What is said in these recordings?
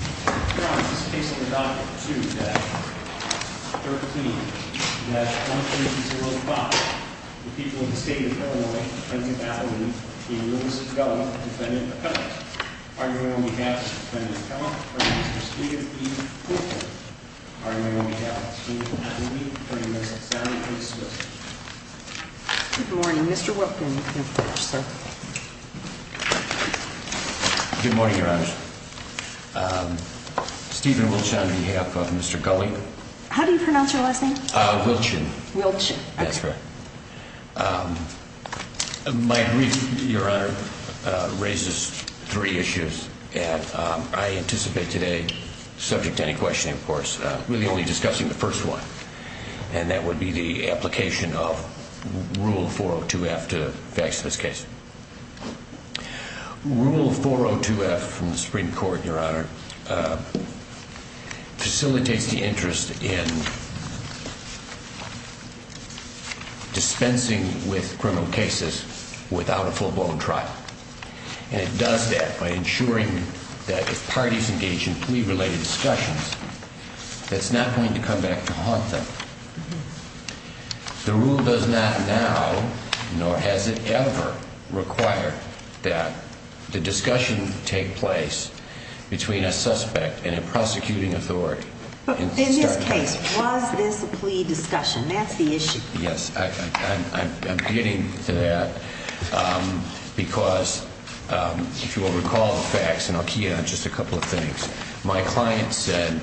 Good morning, Your Honor. This case is under Doctrine 2-13-1305. The people of the state of Illinois, the county of Appalachia, in Lewis v. Gulley, defendant Appellant. Arguing on behalf of the defendant Appellant are Mr. Steven E. Cooper. Arguing on behalf of the county of Appalachia, attorney Mr. Sally A. Swift. Good morning. Mr. Whitman, please, sir. Good morning, Your Honor. Steven Wiltsch on behalf of Mr. Gulley. How do you pronounce your last name? Wiltsch. Wiltsch. That's correct. My brief, Your Honor, raises three issues, and I anticipate today, subject to any questioning, of course, we'll be only discussing the first one. And that would be the application of Rule 402-F to fix this case. Rule 402-F from the Supreme Court, Your Honor, facilitates the interest in dispensing with criminal cases without a full-blown trial. And it does that by ensuring that if parties engage in plea-related discussions, that's not going to come back to haunt them. The rule does not now nor has it ever required that the discussion take place between a suspect and a prosecuting authority. But in this case, was this a plea discussion? That's the issue. Yes, I'm getting to that because, if you will recall the facts, and I'll key in on just a couple of things. My client said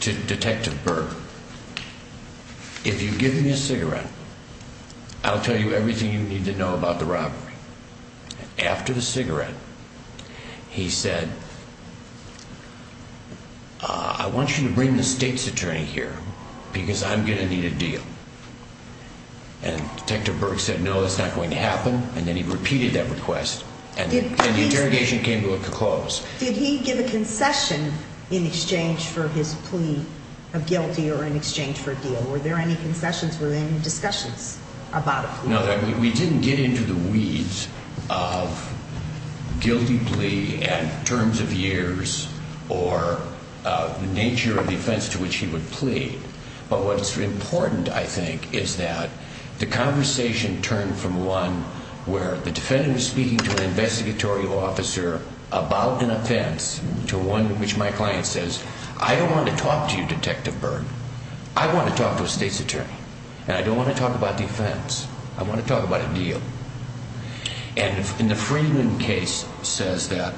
to Detective Berg, if you give me a cigarette, I'll tell you everything you need to know about the robbery. After the cigarette, he said, I want you to bring the state's attorney here because I'm going to need a deal. And Detective Berg said, no, that's not going to happen. And then he repeated that request. And the interrogation came to a close. Did he give a concession in exchange for his plea of guilty or in exchange for a deal? Were there any concessions? Were there any discussions about a plea? No, we didn't get into the weeds of guilty plea and terms of years or the nature of the offense to which he would plead. But what is important, I think, is that the conversation turned from one where the defendant is speaking to an investigatory officer about an offense, to one in which my client says, I don't want to talk to you, Detective Berg. I want to talk to a state's attorney. And I don't want to talk about the offense. I want to talk about a deal. And in the Freeman case, it says that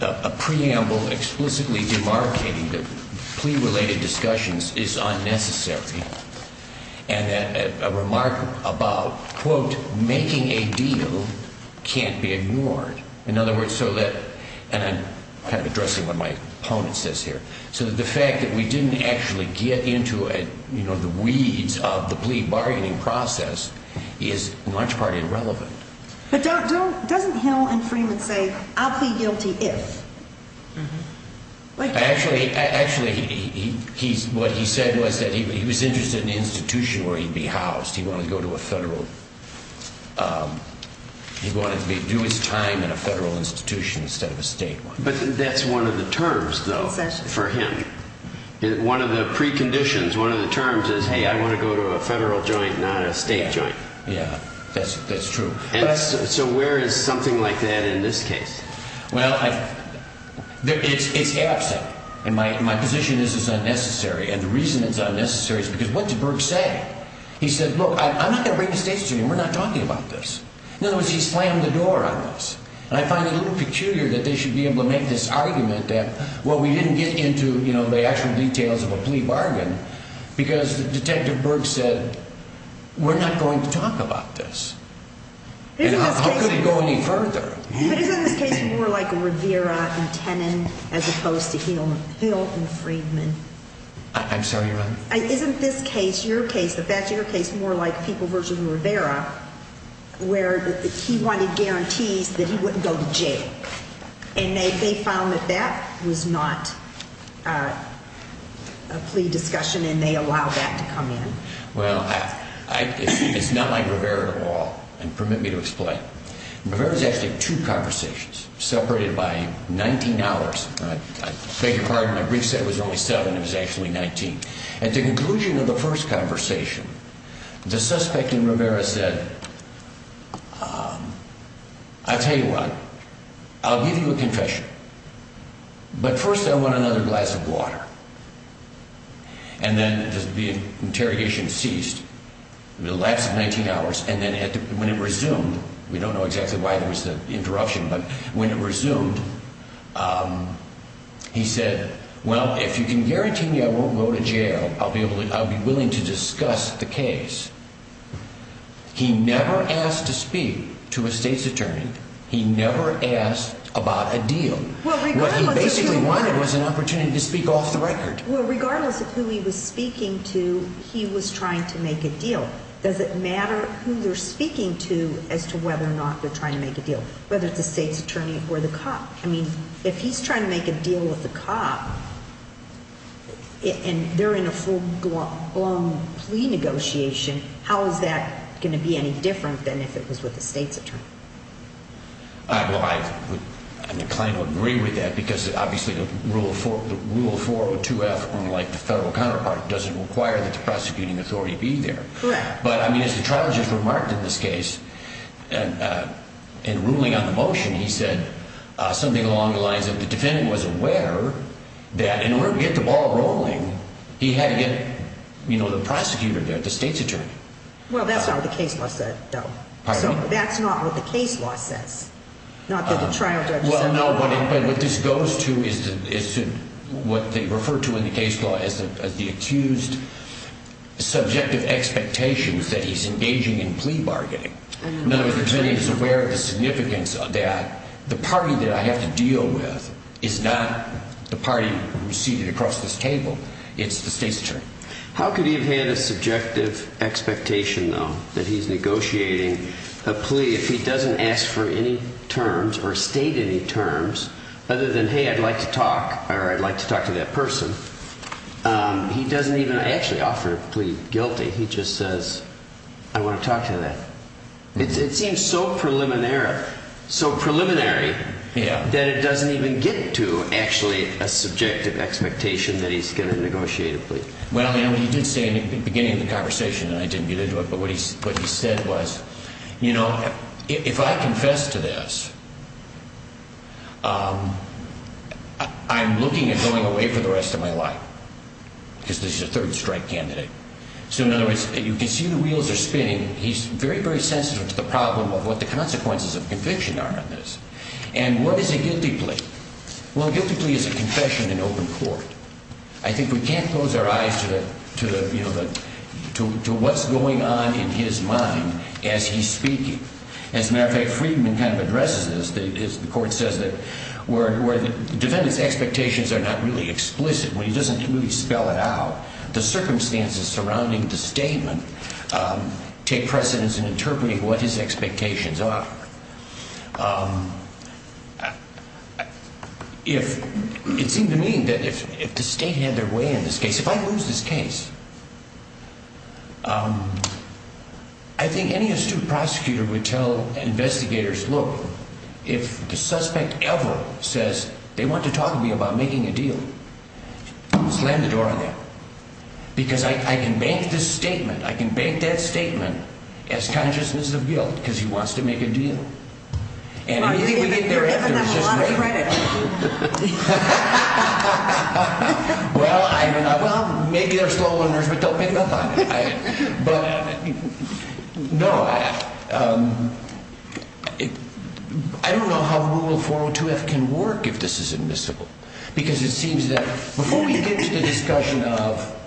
a preamble explicitly demarcating the plea-related discussions is unnecessary. And a remark about, quote, making a deal can't be ignored. In other words, so that, and I'm kind of addressing what my opponent says here, so that the fact that we didn't actually get into the weeds of the plea bargaining process is in large part irrelevant. But doesn't Hill and Freeman say, I'll plead guilty if? Actually, what he said was that he was interested in an institution where he'd be housed. He wanted to go to a federal, he wanted to do his time in a federal institution instead of a state one. But that's one of the terms, though, for him. One of the preconditions, one of the terms is, hey, I want to go to a federal joint, not a state joint. Yeah, that's true. So where is something like that in this case? Well, it's absent. And my position is it's unnecessary. And the reason it's unnecessary is because what did Berg say? He said, look, I'm not going to bring this case to you. We're not talking about this. In other words, he slammed the door on us. And I find it a little peculiar that they should be able to make this argument that, well, we didn't get into, you know, the actual details of a plea bargain because Detective Berg said, we're not going to talk about this. And how could it go any further? But isn't this case more like Rivera and Tennant as opposed to Hill and Freeman? I'm sorry, Your Honor? Isn't this case, your case, the Fetcher case more like people versus Rivera where he wanted guarantees that he wouldn't go to jail? And they found that that was not a plea discussion and they allowed that to come in. Well, it's not like Rivera at all. And permit me to explain. Rivera is actually two conversations separated by 19 hours. I beg your pardon. My brief said it was only seven. It was actually 19. At the conclusion of the first conversation, the suspect in Rivera said, I'll tell you what. I'll give you a confession. But first I want another glass of water. And then the interrogation ceased. The last 19 hours. And then when it resumed, we don't know exactly why there was the interruption, but when it resumed, he said, well, if you can guarantee me I won't go to jail, I'll be willing to discuss the case. He never asked to speak to a state's attorney. He never asked about a deal. What he basically wanted was an opportunity to speak off the record. Well, regardless of who he was speaking to, he was trying to make a deal. Does it matter who they're speaking to as to whether or not they're trying to make a deal, whether it's a state's attorney or the cop? I mean, if he's trying to make a deal with the cop and they're in a full-blown plea negotiation, how is that going to be any different than if it was with a state's attorney? Well, I'm inclined to agree with that because obviously the rule 402F, unlike the federal counterpart, doesn't require that the prosecuting authority be there. Correct. But, I mean, as the trial just remarked in this case, in ruling on the motion, he said something along the lines of the defendant was aware that in order to get the ball rolling, he had to get the prosecutor there, the state's attorney. Well, that's not what the case law said, though. Pardon me? That's not what the case law says, not that the trial judge said. No, but what this goes to is what they refer to in the case law as the accused subjective expectations that he's engaging in plea bargaining. In other words, the defendant is aware of the significance of that. The party that I have to deal with is not the party seated across this table. It's the state's attorney. How could he have had a subjective expectation, though, that he's negotiating a plea if he doesn't ask for any terms or state any terms other than, hey, I'd like to talk, or I'd like to talk to that person. He doesn't even actually offer a plea guilty. He just says, I want to talk to that. It seems so preliminary that it doesn't even get to actually a subjective expectation that he's going to negotiate a plea. Well, he did say in the beginning of the conversation, and I didn't get into it, but what he said was, you know, if I confess to this, I'm looking at going away for the rest of my life because this is a third strike candidate. So, in other words, you can see the wheels are spinning. He's very, very sensitive to the problem of what the consequences of conviction are on this. And what is a guilty plea? Well, a guilty plea is a confession in open court. I think we can't close our eyes to what's going on in his mind as he's speaking. As a matter of fact, Friedman kind of addresses this. The court says that where the defendant's expectations are not really explicit, where he doesn't really spell it out, the circumstances surrounding the statement take precedence in interpreting what his expectations are. If it seemed to me that if the state had their way in this case, if I lose this case, I think any astute prosecutor would tell investigators, look, if the suspect ever says they want to talk to me about making a deal, slam the door on them. Because I can make this statement, I can make that statement as consciousness of guilt because he wants to make a deal. You're giving them a lot of credit. Well, maybe they're slow learners, but don't pick them up on it. But, no, I don't know how Rule 402F can work if this is admissible. Because it seems that before we get to the discussion of,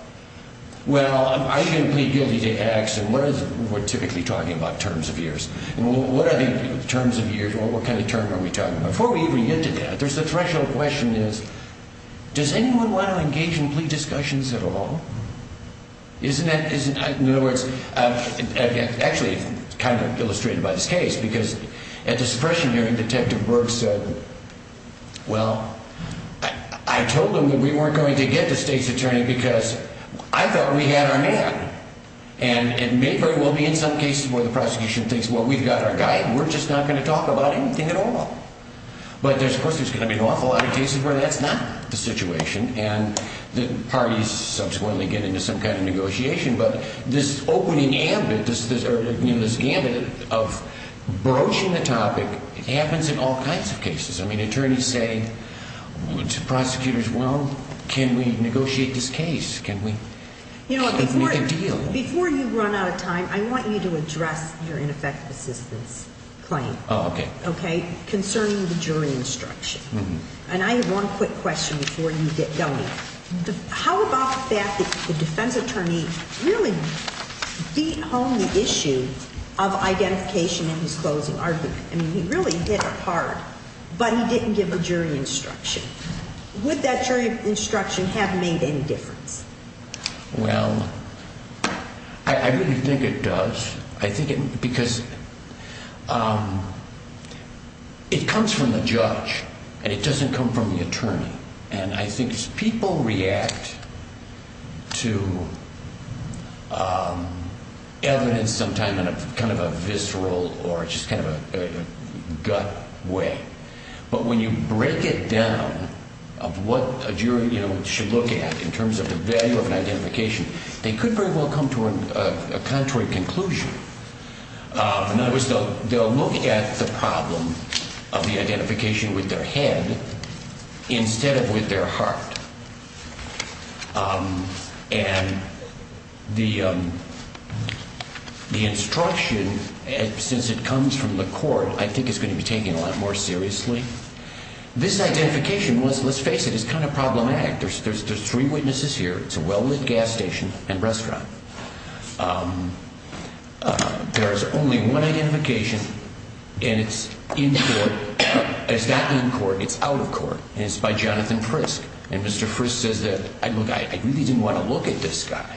well, are you going to plead guilty to X? And we're typically talking about terms of years. And what are the terms of years? What kind of term are we talking about? Before we even get to that, there's a threshold question is, does anyone want to engage in plea discussions at all? In other words, actually kind of illustrated by this case, because at the suppression hearing, Detective Burke said, well, I told them that we weren't going to get the state's attorney because I thought we had our man. And it may very well be in some cases where the prosecution thinks, well, we've got our guy, and we're just not going to talk about anything at all. But, of course, there's going to be an awful lot of cases where that's not the situation. And the parties subsequently get into some kind of negotiation. But this opening gambit of broaching the topic happens in all kinds of cases. I mean, attorneys say to prosecutors, well, can we negotiate this case? Can we make a deal? Before you run out of time, I want you to address your ineffective assistance claim concerning the jury instruction. And I have one quick question before you get going. How about the fact that the defense attorney really beat home the issue of identification in his closing argument? I mean, he really hit it hard, but he didn't give a jury instruction. Would that jury instruction have made any difference? Well, I really think it does. Because it comes from the judge, and it doesn't come from the attorney. And I think people react to evidence sometimes in kind of a visceral or just kind of a gut way. But when you break it down of what a jury should look at in terms of the value of an identification, they could very well come to a contrary conclusion. In other words, they'll look at the problem of the identification with their head instead of with their heart. And the instruction, since it comes from the court, I think is going to be taken a lot more seriously. This identification, let's face it, is kind of problematic. There's three witnesses here. It's a well-lit gas station and restaurant. There is only one identification, and it's in court. It's not in court. It's out of court. And it's by Jonathan Frisk. And Mr. Frisk says that, look, I really didn't want to look at this guy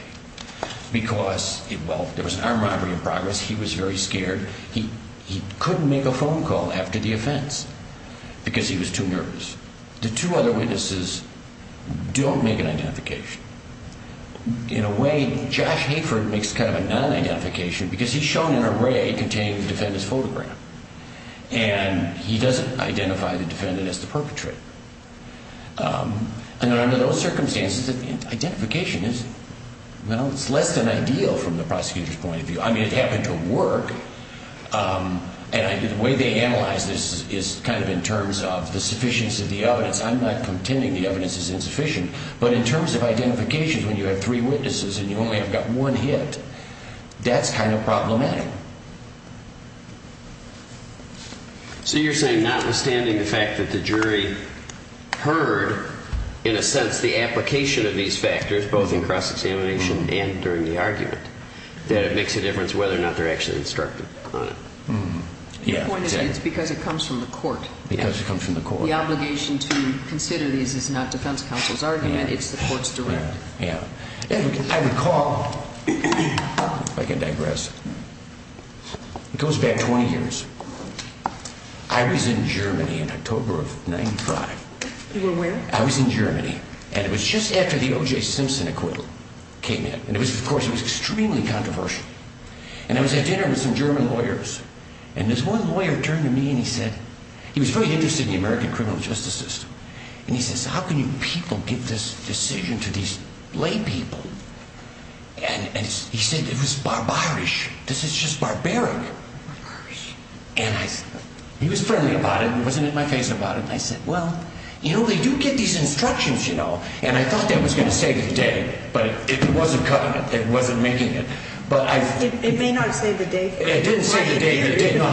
because, well, there was an armed robbery in progress. He was very scared. He couldn't make a phone call after the offense because he was too nervous. The two other witnesses don't make an identification. In a way, Josh Hayford makes kind of a non-identification because he's shown an array containing the defendant's photograph. And he doesn't identify the defendant as the perpetrator. And under those circumstances, identification is, well, it's less than ideal from the prosecutor's point of view. I mean, it happened to work. And the way they analyze this is kind of in terms of the sufficiency of the evidence. I'm not contending the evidence is insufficient. But in terms of identifications, when you have three witnesses and you only have got one hit, that's kind of problematic. So you're saying notwithstanding the fact that the jury heard, in a sense, the application of these factors, both in cross-examination and during the argument, that it makes a difference whether or not they're actually instructed on it. The point is it's because it comes from the court. Because it comes from the court. The obligation to consider these is not defense counsel's argument. It's the court's direct. I recall, if I can digress, it goes back 20 years. I was in Germany in October of 95. You were where? I was in Germany. And it was just after the O.J. Simpson acquittal came in. And, of course, it was extremely controversial. And I was at dinner with some German lawyers. And this one lawyer turned to me and he said he was very interested in the American criminal justice system. And he says, how can you people give this decision to these lay people? And he said it was barbaric. This is just barbaric. Barbaric. And he was friendly about it and wasn't in my face about it. And I said, well, you know, they do get these instructions, you know. And I thought that was going to save the day. But it wasn't cutting it. It wasn't making it. It may not save the day. It didn't save the day. No,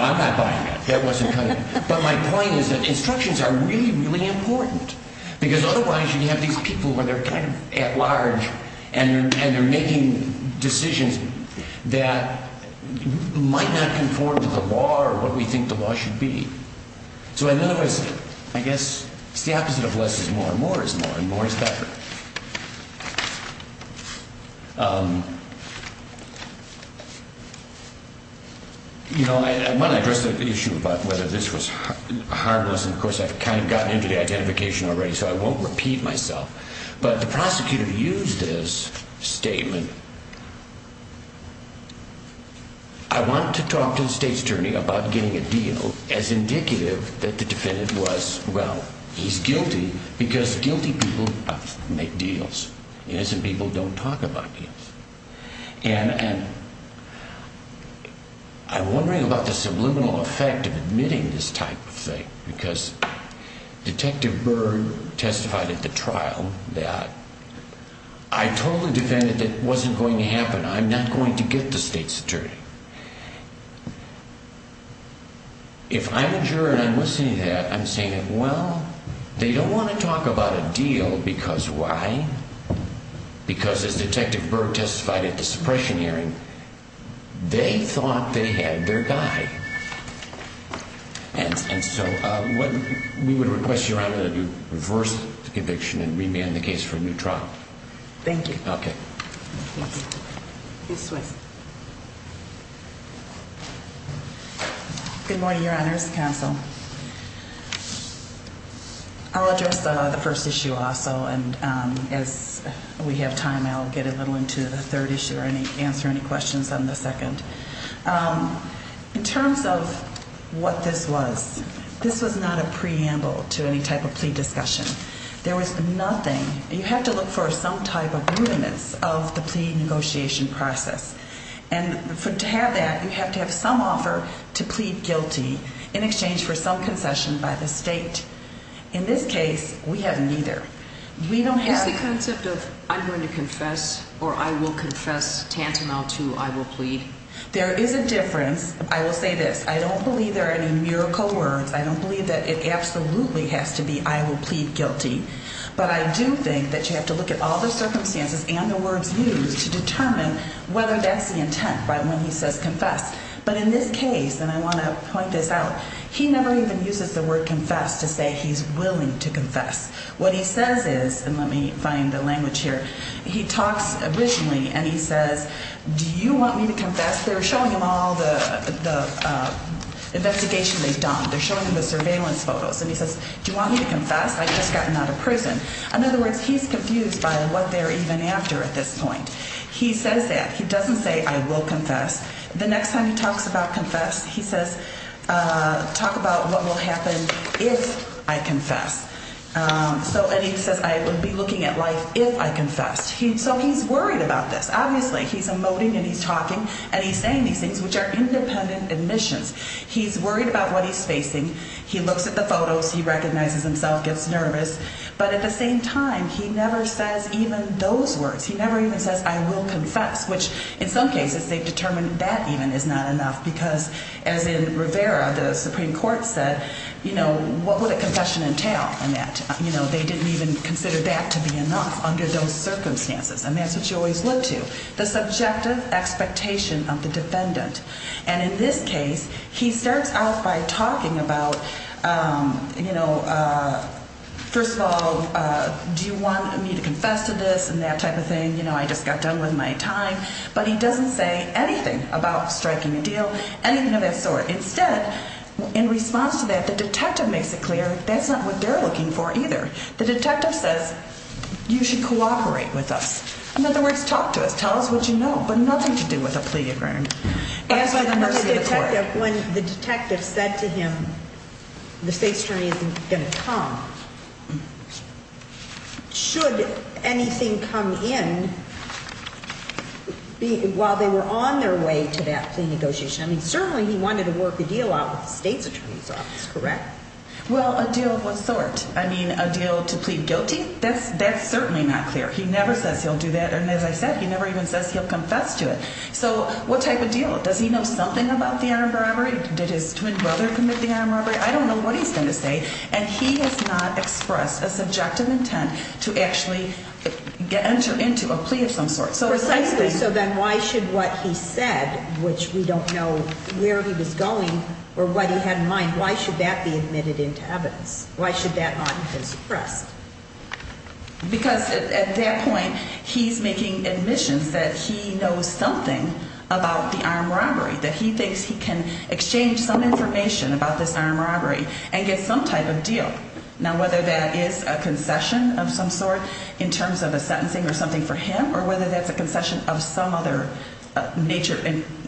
I'm not buying that. That wasn't cutting it. But my point is that instructions are really, really important. Because otherwise you have these people where they're kind of at large. And they're making decisions that might not conform to the law or what we think the law should be. So, in other words, I guess it's the opposite of less is more. More is more. And more is better. You know, I want to address the issue about whether this was harmless. And, of course, I've kind of gotten into the identification already, so I won't repeat myself. But the prosecutor used this statement. I want to talk to the state's attorney about getting a deal as indicative that the defendant was, well, he's guilty. Because guilty people make deals. Innocent people don't talk about deals. I'm wondering about the subliminal effect of admitting this type of thing. Because Detective Berg testified at the trial that I totally defended that it wasn't going to happen. I'm not going to get the state's attorney. If I'm a juror and I'm listening to that, I'm saying, well, they don't want to talk about a deal because why? Because, as Detective Berg testified at the suppression hearing, they thought they had their guy. And so we would request Your Honor to reverse the conviction and remand the case for a new trial. Thank you. Okay. Good morning, Your Honors. Counsel. I'll address the first issue also. And as we have time, I'll get a little into the third issue or answer any questions on the second. In terms of what this was, this was not a preamble to any type of plea discussion. There was nothing. You have to look for some type of rudiments of the plea negotiation process. And to have that, you have to have some offer to plead guilty in exchange for some concession by the state. In this case, we have neither. Is the concept of I'm going to confess or I will confess tantamount to I will plead? There is a difference. I will say this. I don't believe there are any miracle words. I don't believe that it absolutely has to be I will plead guilty. But I do think that you have to look at all the circumstances and the words used to determine whether that's the intent when he says confess. But in this case, and I want to point this out, he never even uses the word confess to say he's willing to confess. What he says is, and let me find the language here, he talks originally and he says, do you want me to confess? They're showing him all the investigation they've done. They're showing him the surveillance photos. And he says, do you want me to confess? I've just gotten out of prison. In other words, he's confused by what they're even after at this point. He says that. He doesn't say I will confess. The next time he talks about confess, he says talk about what will happen if I confess. So and he says I would be looking at life if I confessed. So he's worried about this. Obviously, he's emoting and he's talking and he's saying these things which are independent admissions. He's worried about what he's facing. He looks at the photos. He recognizes himself, gets nervous. But at the same time, he never says even those words. He never even says I will confess, which in some cases they've determined that even is not enough because as in Rivera, the Supreme Court said, you know, what would a confession entail? And that, you know, they didn't even consider that to be enough under those circumstances. And that's what you always look to, the subjective expectation of the defendant. And in this case, he starts out by talking about, you know, first of all, do you want me to confess to this and that type of thing? You know, I just got done with my time. But he doesn't say anything about striking a deal, anything of that sort. Instead, in response to that, the detective makes it clear that's not what they're looking for either. The detective says you should cooperate with us. In other words, talk to us. Tell us what you know. But nothing to do with a plea agreement. When the detective said to him the state attorney isn't going to come, should anything come in while they were on their way to that plea negotiation? I mean, certainly he wanted to work a deal out with the state's attorney's office, correct? Well, a deal of what sort? I mean, a deal to plead guilty? That's certainly not clear. He never says he'll do that. And as I said, he never even says he'll confess to it. So what type of deal? Does he know something about the armed robbery? Did his twin brother commit the armed robbery? I don't know what he's going to say. And he has not expressed a subjective intent to actually enter into a plea of some sort. So then why should what he said, which we don't know where he was going or what he had in mind, why should that be admitted into evidence? Why should that not have been suppressed? Because at that point, he's making admissions that he knows something about the armed robbery, that he thinks he can exchange some information about this armed robbery and get some type of deal. Now, whether that is a concession of some sort in terms of a sentencing or something for him or whether that's a concession of some other nature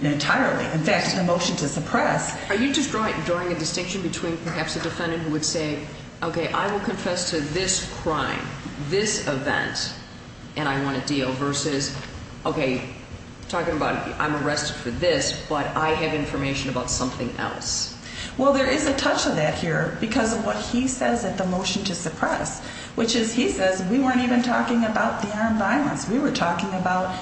entirely. In fact, it's a motion to suppress. Are you just drawing a distinction between perhaps a defendant who would say, okay, I will confess to this crime, this event, and I want a deal, versus, okay, talking about I'm arrested for this, but I have information about something else? Well, there is a touch of that here because of what he says at the motion to suppress, which is he says we weren't even talking about the armed violence. We were talking about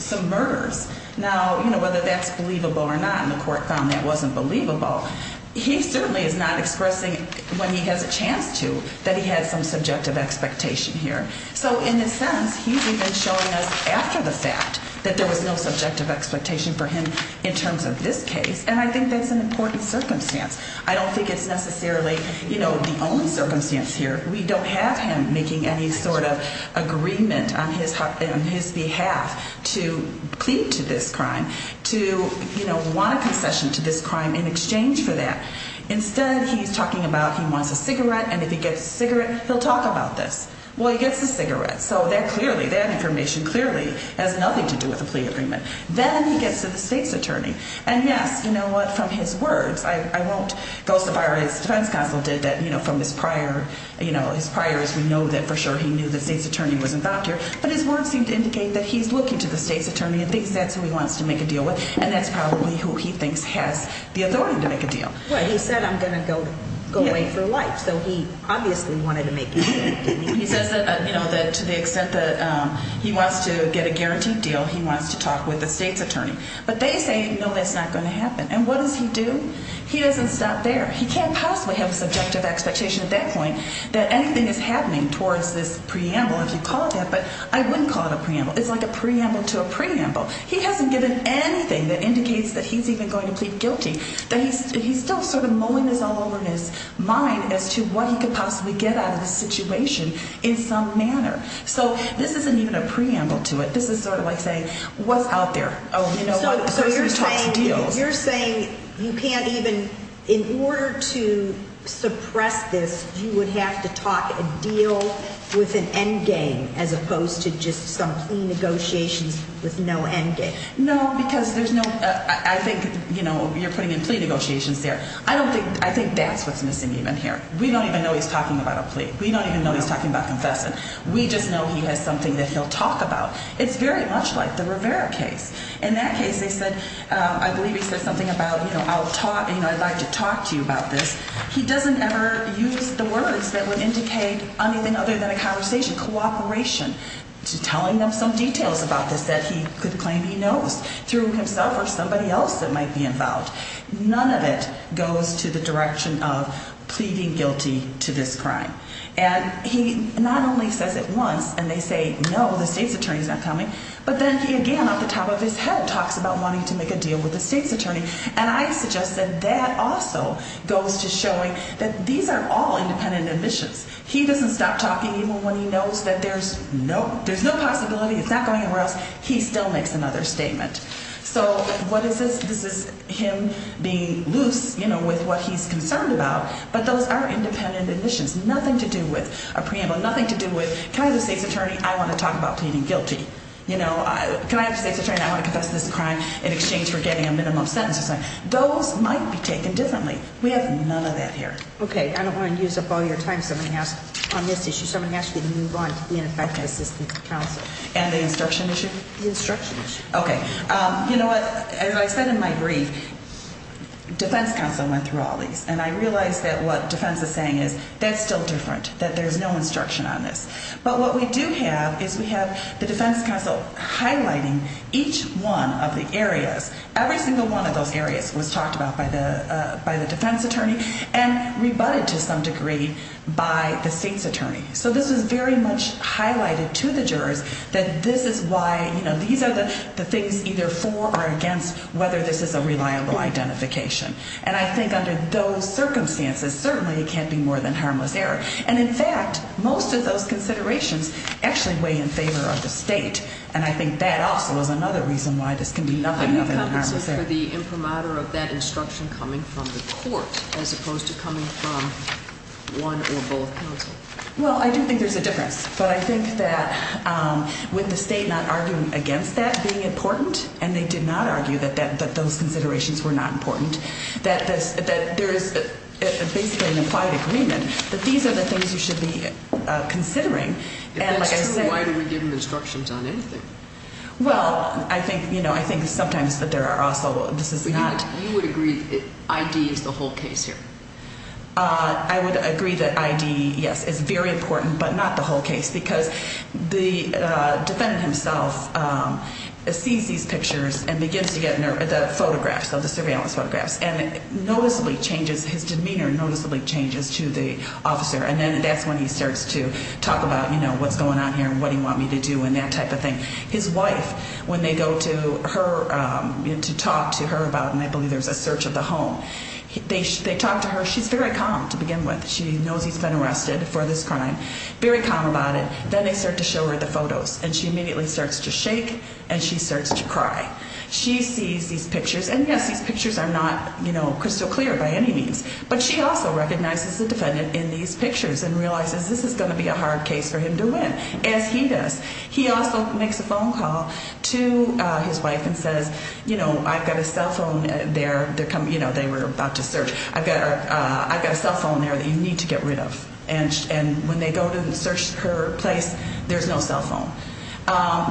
some murders. Now, whether that's believable or not, and the court found that wasn't believable, he certainly is not expressing when he has a chance to that he has some subjective expectation here. So in a sense, he's even showing us after the fact that there was no subjective expectation for him in terms of this case. And I think that's an important circumstance. I don't think it's necessarily the only circumstance here. We don't have him making any sort of agreement on his behalf to plead to this crime, to want a concession to this crime in exchange for that. Instead, he's talking about he wants a cigarette, and if he gets a cigarette, he'll talk about this. Well, he gets a cigarette, so that clearly, that information clearly has nothing to do with a plea agreement. Then he gets to the state's attorney. And yes, you know what, from his words, I won't go so far as defense counsel did that, you know, from his prior, you know, his prior as we know that for sure he knew the state's attorney was in Thakkar. But his words seem to indicate that he's looking to the state's attorney and thinks that's who he wants to make a deal with. And that's probably who he thinks has the authority to make a deal. Well, he said, I'm going to go away for life. So he obviously wanted to make a deal. He says that, you know, that to the extent that he wants to get a guaranteed deal, he wants to talk with the state's attorney. But they say, no, that's not going to happen. And what does he do? He doesn't stop there. He can't possibly have a subjective expectation at that point that anything is happening towards this preamble, if you call it that. But I wouldn't call it a preamble. It's like a preamble to a preamble. He hasn't given anything that indicates that he's even going to plead guilty, that he's still sort of mowing this all over in his mind as to what he could possibly get out of this situation in some manner. So this isn't even a preamble to it. This is sort of like saying, what's out there? Oh, you know what, the person talks deals. So you're saying you can't even – in order to suppress this, you would have to talk a deal with an end game as opposed to just some plea negotiations with no end game? No, because there's no – I think, you know, you're putting in plea negotiations there. I don't think – I think that's what's missing even here. We don't even know he's talking about a plea. We don't even know he's talking about confession. We just know he has something that he'll talk about. It's very much like the Rivera case. In that case, they said – I believe he said something about, you know, I'll talk – you know, I'd like to talk to you about this. He doesn't ever use the words that would indicate anything other than a conversation, cooperation, to telling them some details about this that he could claim he knows through himself or somebody else that might be involved. None of it goes to the direction of pleading guilty to this crime. And he not only says it once and they say, no, the state's attorney is not coming, but then he again off the top of his head talks about wanting to make a deal with the state's attorney. And I suggest that that also goes to showing that these are all independent admissions. He doesn't stop talking even when he knows that there's – nope, there's no possibility, it's not going anywhere else. He still makes another statement. So what is this? This is him being loose, you know, with what he's concerned about, but those are independent admissions. Nothing to do with a preamble, nothing to do with can I have the state's attorney, I want to talk about pleading guilty. You know, can I have the state's attorney and I want to confess to this crime in exchange for getting a minimum sentence or something. Those might be taken differently. We have none of that here. Okay. I don't want to use up all your time on this issue, so I'm going to ask you to move on to the ineffective assistance of counsel. And the instruction issue? The instruction issue. Okay. You know what? As I said in my brief, defense counsel went through all these. And I realize that what defense is saying is that's still different, that there's no instruction on this. But what we do have is we have the defense counsel highlighting each one of the areas. Every single one of those areas was talked about by the defense attorney and rebutted to some degree by the state's attorney. So this is very much highlighted to the jurors that this is why, you know, these are the things either for or against whether this is a reliable identification. And I think under those circumstances, certainly it can't be more than harmless error. And, in fact, most of those considerations actually weigh in favor of the state. And I think that also is another reason why this can be nothing other than harmless error. What is the compensation for the imprimatur of that instruction coming from the court as opposed to coming from one or both counsel? Well, I don't think there's a difference. But I think that with the state not arguing against that being important, and they did not argue that those considerations were not important, that there is basically an implied agreement that these are the things you should be considering. If that's true, why do we give them instructions on anything? Well, I think, you know, I think sometimes that there are also this is not. You would agree that ID is the whole case here? I would agree that ID, yes, is very important, but not the whole case, because the defendant himself sees these pictures and begins to get the photographs of the surveillance photographs and noticeably changes his demeanor, noticeably changes to the officer. And then that's when he starts to talk about, you know, what's going on here and what do you want me to do and that type of thing. His wife, when they go to her, you know, to talk to her about, and I believe there's a search of the home, they talk to her. She's very calm to begin with. She knows he's been arrested for this crime, very calm about it. Then they start to show her the photos, and she immediately starts to shake and she starts to cry. She sees these pictures, and, yes, these pictures are not, you know, crystal clear by any means, but she also recognizes the defendant in these pictures and realizes this is going to be a hard case for him to win, as he does. He also makes a phone call to his wife and says, you know, I've got a cell phone there. You know, they were about to search. I've got a cell phone there that you need to get rid of. And when they go to search her place, there's no cell phone.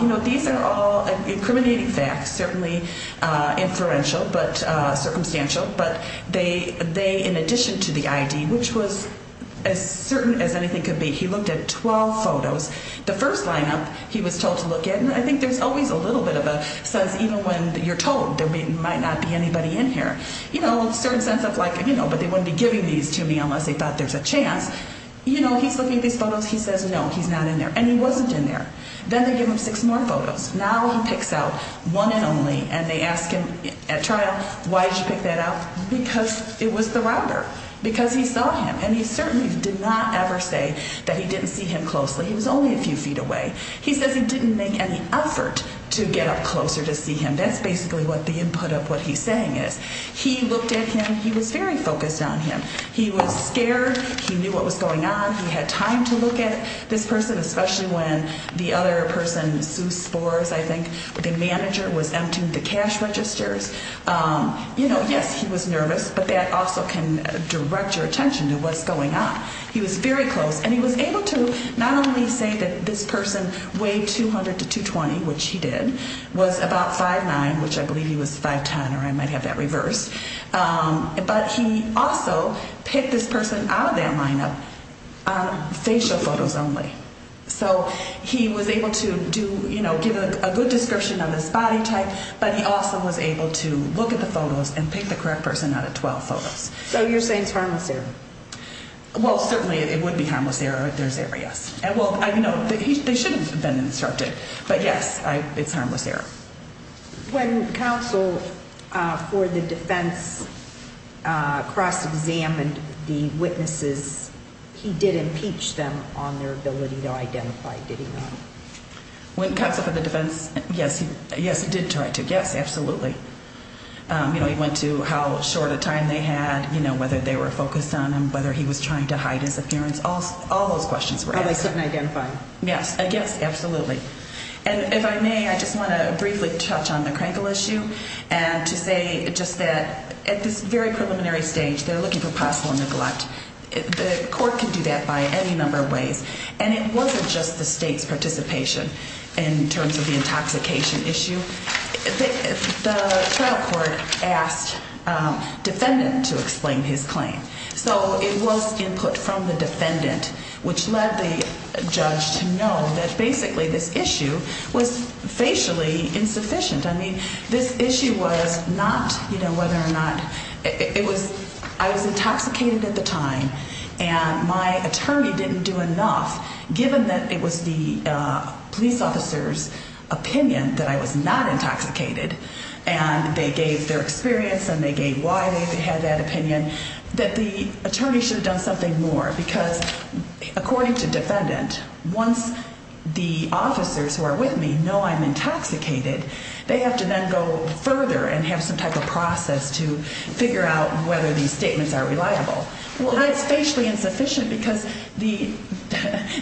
You know, these are all incriminating facts, certainly inferential but circumstantial, but they, in addition to the ID, which was as certain as anything could be, he looked at 12 photos. The first lineup he was told to look at, and I think there's always a little bit of a sense, even when you're told there might not be anybody in here, you know, a certain sense of like, you know, but they wouldn't be giving these to me unless they thought there's a chance. You know, he's looking at these photos. He says, no, he's not in there, and he wasn't in there. Then they give him six more photos. Now he picks out one and only, and they ask him at trial, why did you pick that out? Because it was the robber, because he saw him, and he certainly did not ever say that he didn't see him closely. He was only a few feet away. He says he didn't make any effort to get up closer to see him. That's basically what the input of what he's saying is. He looked at him. He was very focused on him. He was scared. He knew what was going on. He had time to look at this person, especially when the other person, Sue Spores, I think, the manager was emptying the cash registers. You know, yes, he was nervous, but that also can direct your attention to what's going on. He was very close, and he was able to not only say that this person weighed 200 to 220, which he did, was about 5'9", which I believe he was 5'10", or I might have that reversed, but he also picked this person out of their lineup on facial photos only. So he was able to do, you know, give a good description of his body type, but he also was able to look at the photos and pick the correct person out of 12 photos. So you're saying it's harmless there? Well, certainly it would be harmless there if there's areas. Well, you know, they should have been instructed, but, yes, it's harmless there. When counsel for the defense cross-examined the witnesses, he did impeach them on their ability to identify, did he not? When counsel for the defense, yes, he did try to, yes, absolutely. You know, he went to how short a time they had, you know, whether they were focused on him, whether he was trying to hide his appearance, all those questions were asked. Oh, they couldn't identify him? Yes, yes, absolutely. And if I may, I just want to briefly touch on the Krankel issue and to say just that at this very preliminary stage, they're looking for possible neglect. The court can do that by any number of ways, and it wasn't just the state's participation in terms of the intoxication issue. The trial court asked defendant to explain his claim. So it was input from the defendant which led the judge to know that basically this issue was facially insufficient. I mean, this issue was not, you know, whether or not it was I was intoxicated at the time and my attorney didn't do enough given that it was the police officer's opinion that I was not intoxicated and they gave their experience and they gave why they had that opinion, that the attorney should have done something more because according to defendant, once the officers who are with me know I'm intoxicated, they have to then go further and have some type of process to figure out whether these statements are reliable. Well, that's facially insufficient because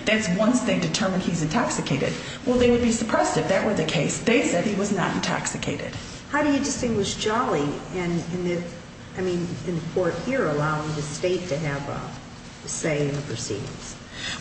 that's once they determine he's intoxicated. Well, they would be suppressed if that were the case. They said he was not intoxicated. How do you distinguish Jolly and, I mean, in the court here allowing the state to have a say in the proceedings?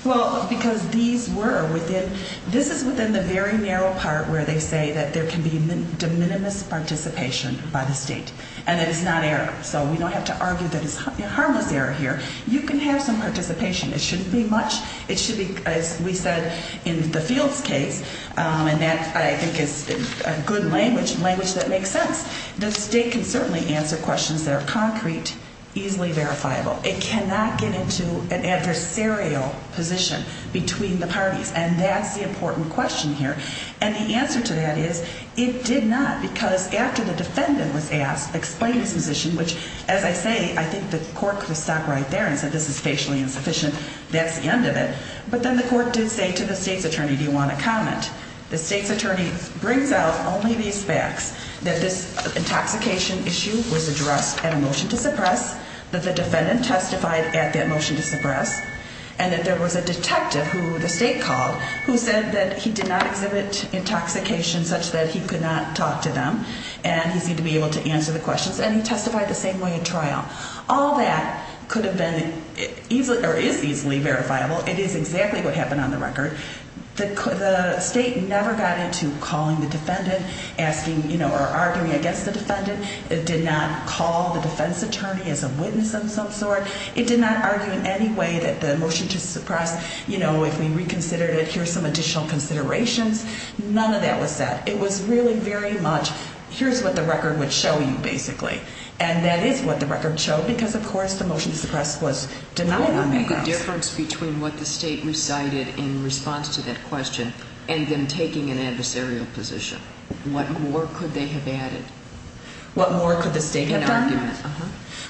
Well, because these were within, this is within the very narrow part where they say that there can be de minimis participation by the state and that it's not error. So we don't have to argue that it's harmless error here. You can have some participation. It shouldn't be much. It should be, as we said in the Fields case, and that I think is a good language, language that makes sense, the state can certainly answer questions that are concrete, easily verifiable. It cannot get into an adversarial position between the parties, and that's the important question here. And the answer to that is it did not because after the defendant was asked, explained his position, which, as I say, I think the court could have stopped right there and said this is facially insufficient, that's the end of it. But then the court did say to the state's attorney, do you want to comment? The state's attorney brings out only these facts, that this intoxication issue was addressed at a motion to suppress, that the defendant testified at that motion to suppress, and that there was a detective who the state called who said that he did not exhibit intoxication such that he could not talk to them and he seemed to be able to answer the questions, and he testified the same way at trial. All that could have been easily or is easily verifiable. It is exactly what happened on the record. The state never got into calling the defendant, asking, you know, or arguing against the defendant. It did not call the defense attorney as a witness of some sort. It did not argue in any way that the motion to suppress, you know, if we reconsidered it, here's some additional considerations. None of that was said. It was really very much, here's what the record would show you, basically. And that is what the record showed because, of course, the motion to suppress was denied on that grounds. What would make a difference between what the state recited in response to that question and them taking an adversarial position? What more could they have added? What more could the state have done? In argument, uh-huh.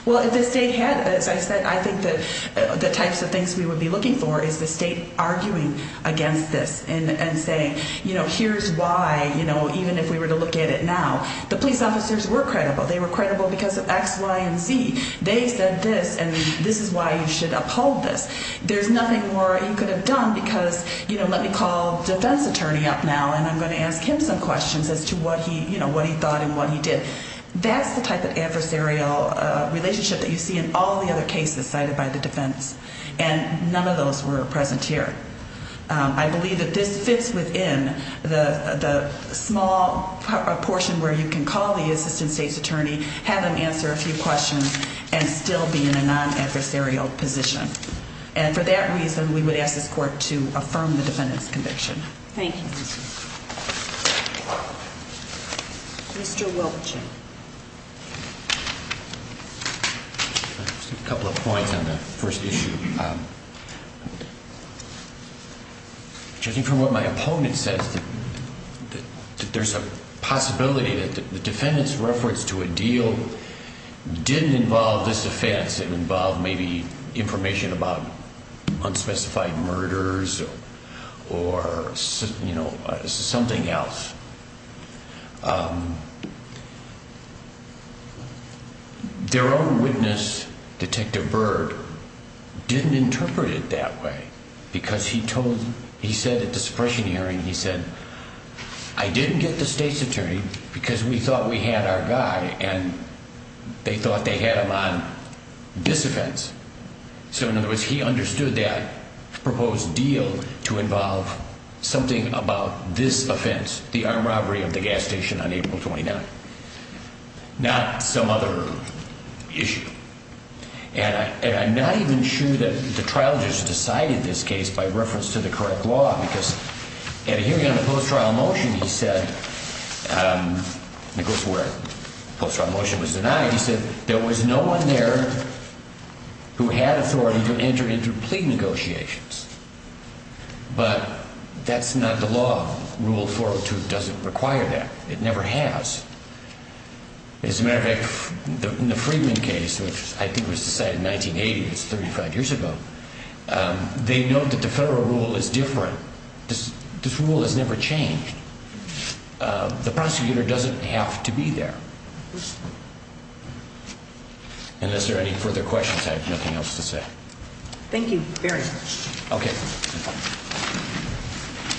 Well, if the state had, as I said, I think that the types of things we would be looking for is the state arguing against this and saying, you know, here's why, you know, even if we were to look at it now, the police officers were credible. They were credible because of X, Y, and Z. They said this and this is why you should uphold this. There's nothing more you could have done because, you know, let me call the defense attorney up now and I'm going to ask him some questions as to what he, you know, what he thought and what he did. That's the type of adversarial relationship that you see in all the other cases cited by the defense. And none of those were present here. I believe that this fits within the small portion where you can call the assistant state's attorney, have him answer a few questions, and still be in a non-adversarial position. And for that reason, we would ask this court to affirm the defendant's conviction. Thank you. Mr. Wilkinson. A couple of points on the first issue. Judging from what my opponent says, there's a possibility that the defendant's reference to a deal didn't involve this offense. It involved maybe information about unspecified murders or, you know, something else. Their own witness, Detective Bird, didn't interpret it that way because he said at the suppression hearing, he said, I didn't get the state's attorney because we thought we had our guy and they thought they had him on this offense. So in other words, he understood that proposed deal to involve something about this offense, the armed robbery of the gas station on April 29th, not some other issue. And I'm not even sure that the trial just decided this case by reference to the correct law because at a hearing on the post-trial motion, he said, and this is where the post-trial motion was denied, he said there was no one there who had authority to enter into plea negotiations. But that's not the law. Rule 402 doesn't require that. It never has. As a matter of fact, in the Freedman case, which I think was decided in 1980, that's 35 years ago, they note that the federal rule is different. This rule has never changed. The prosecutor doesn't have to be there. Unless there are any further questions, I have nothing else to say. Thank you very much. Okay.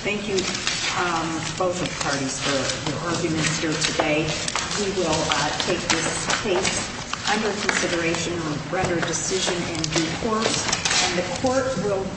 Thank you, both parties, for your arguments here today. We will take this case under consideration and render a decision in due course.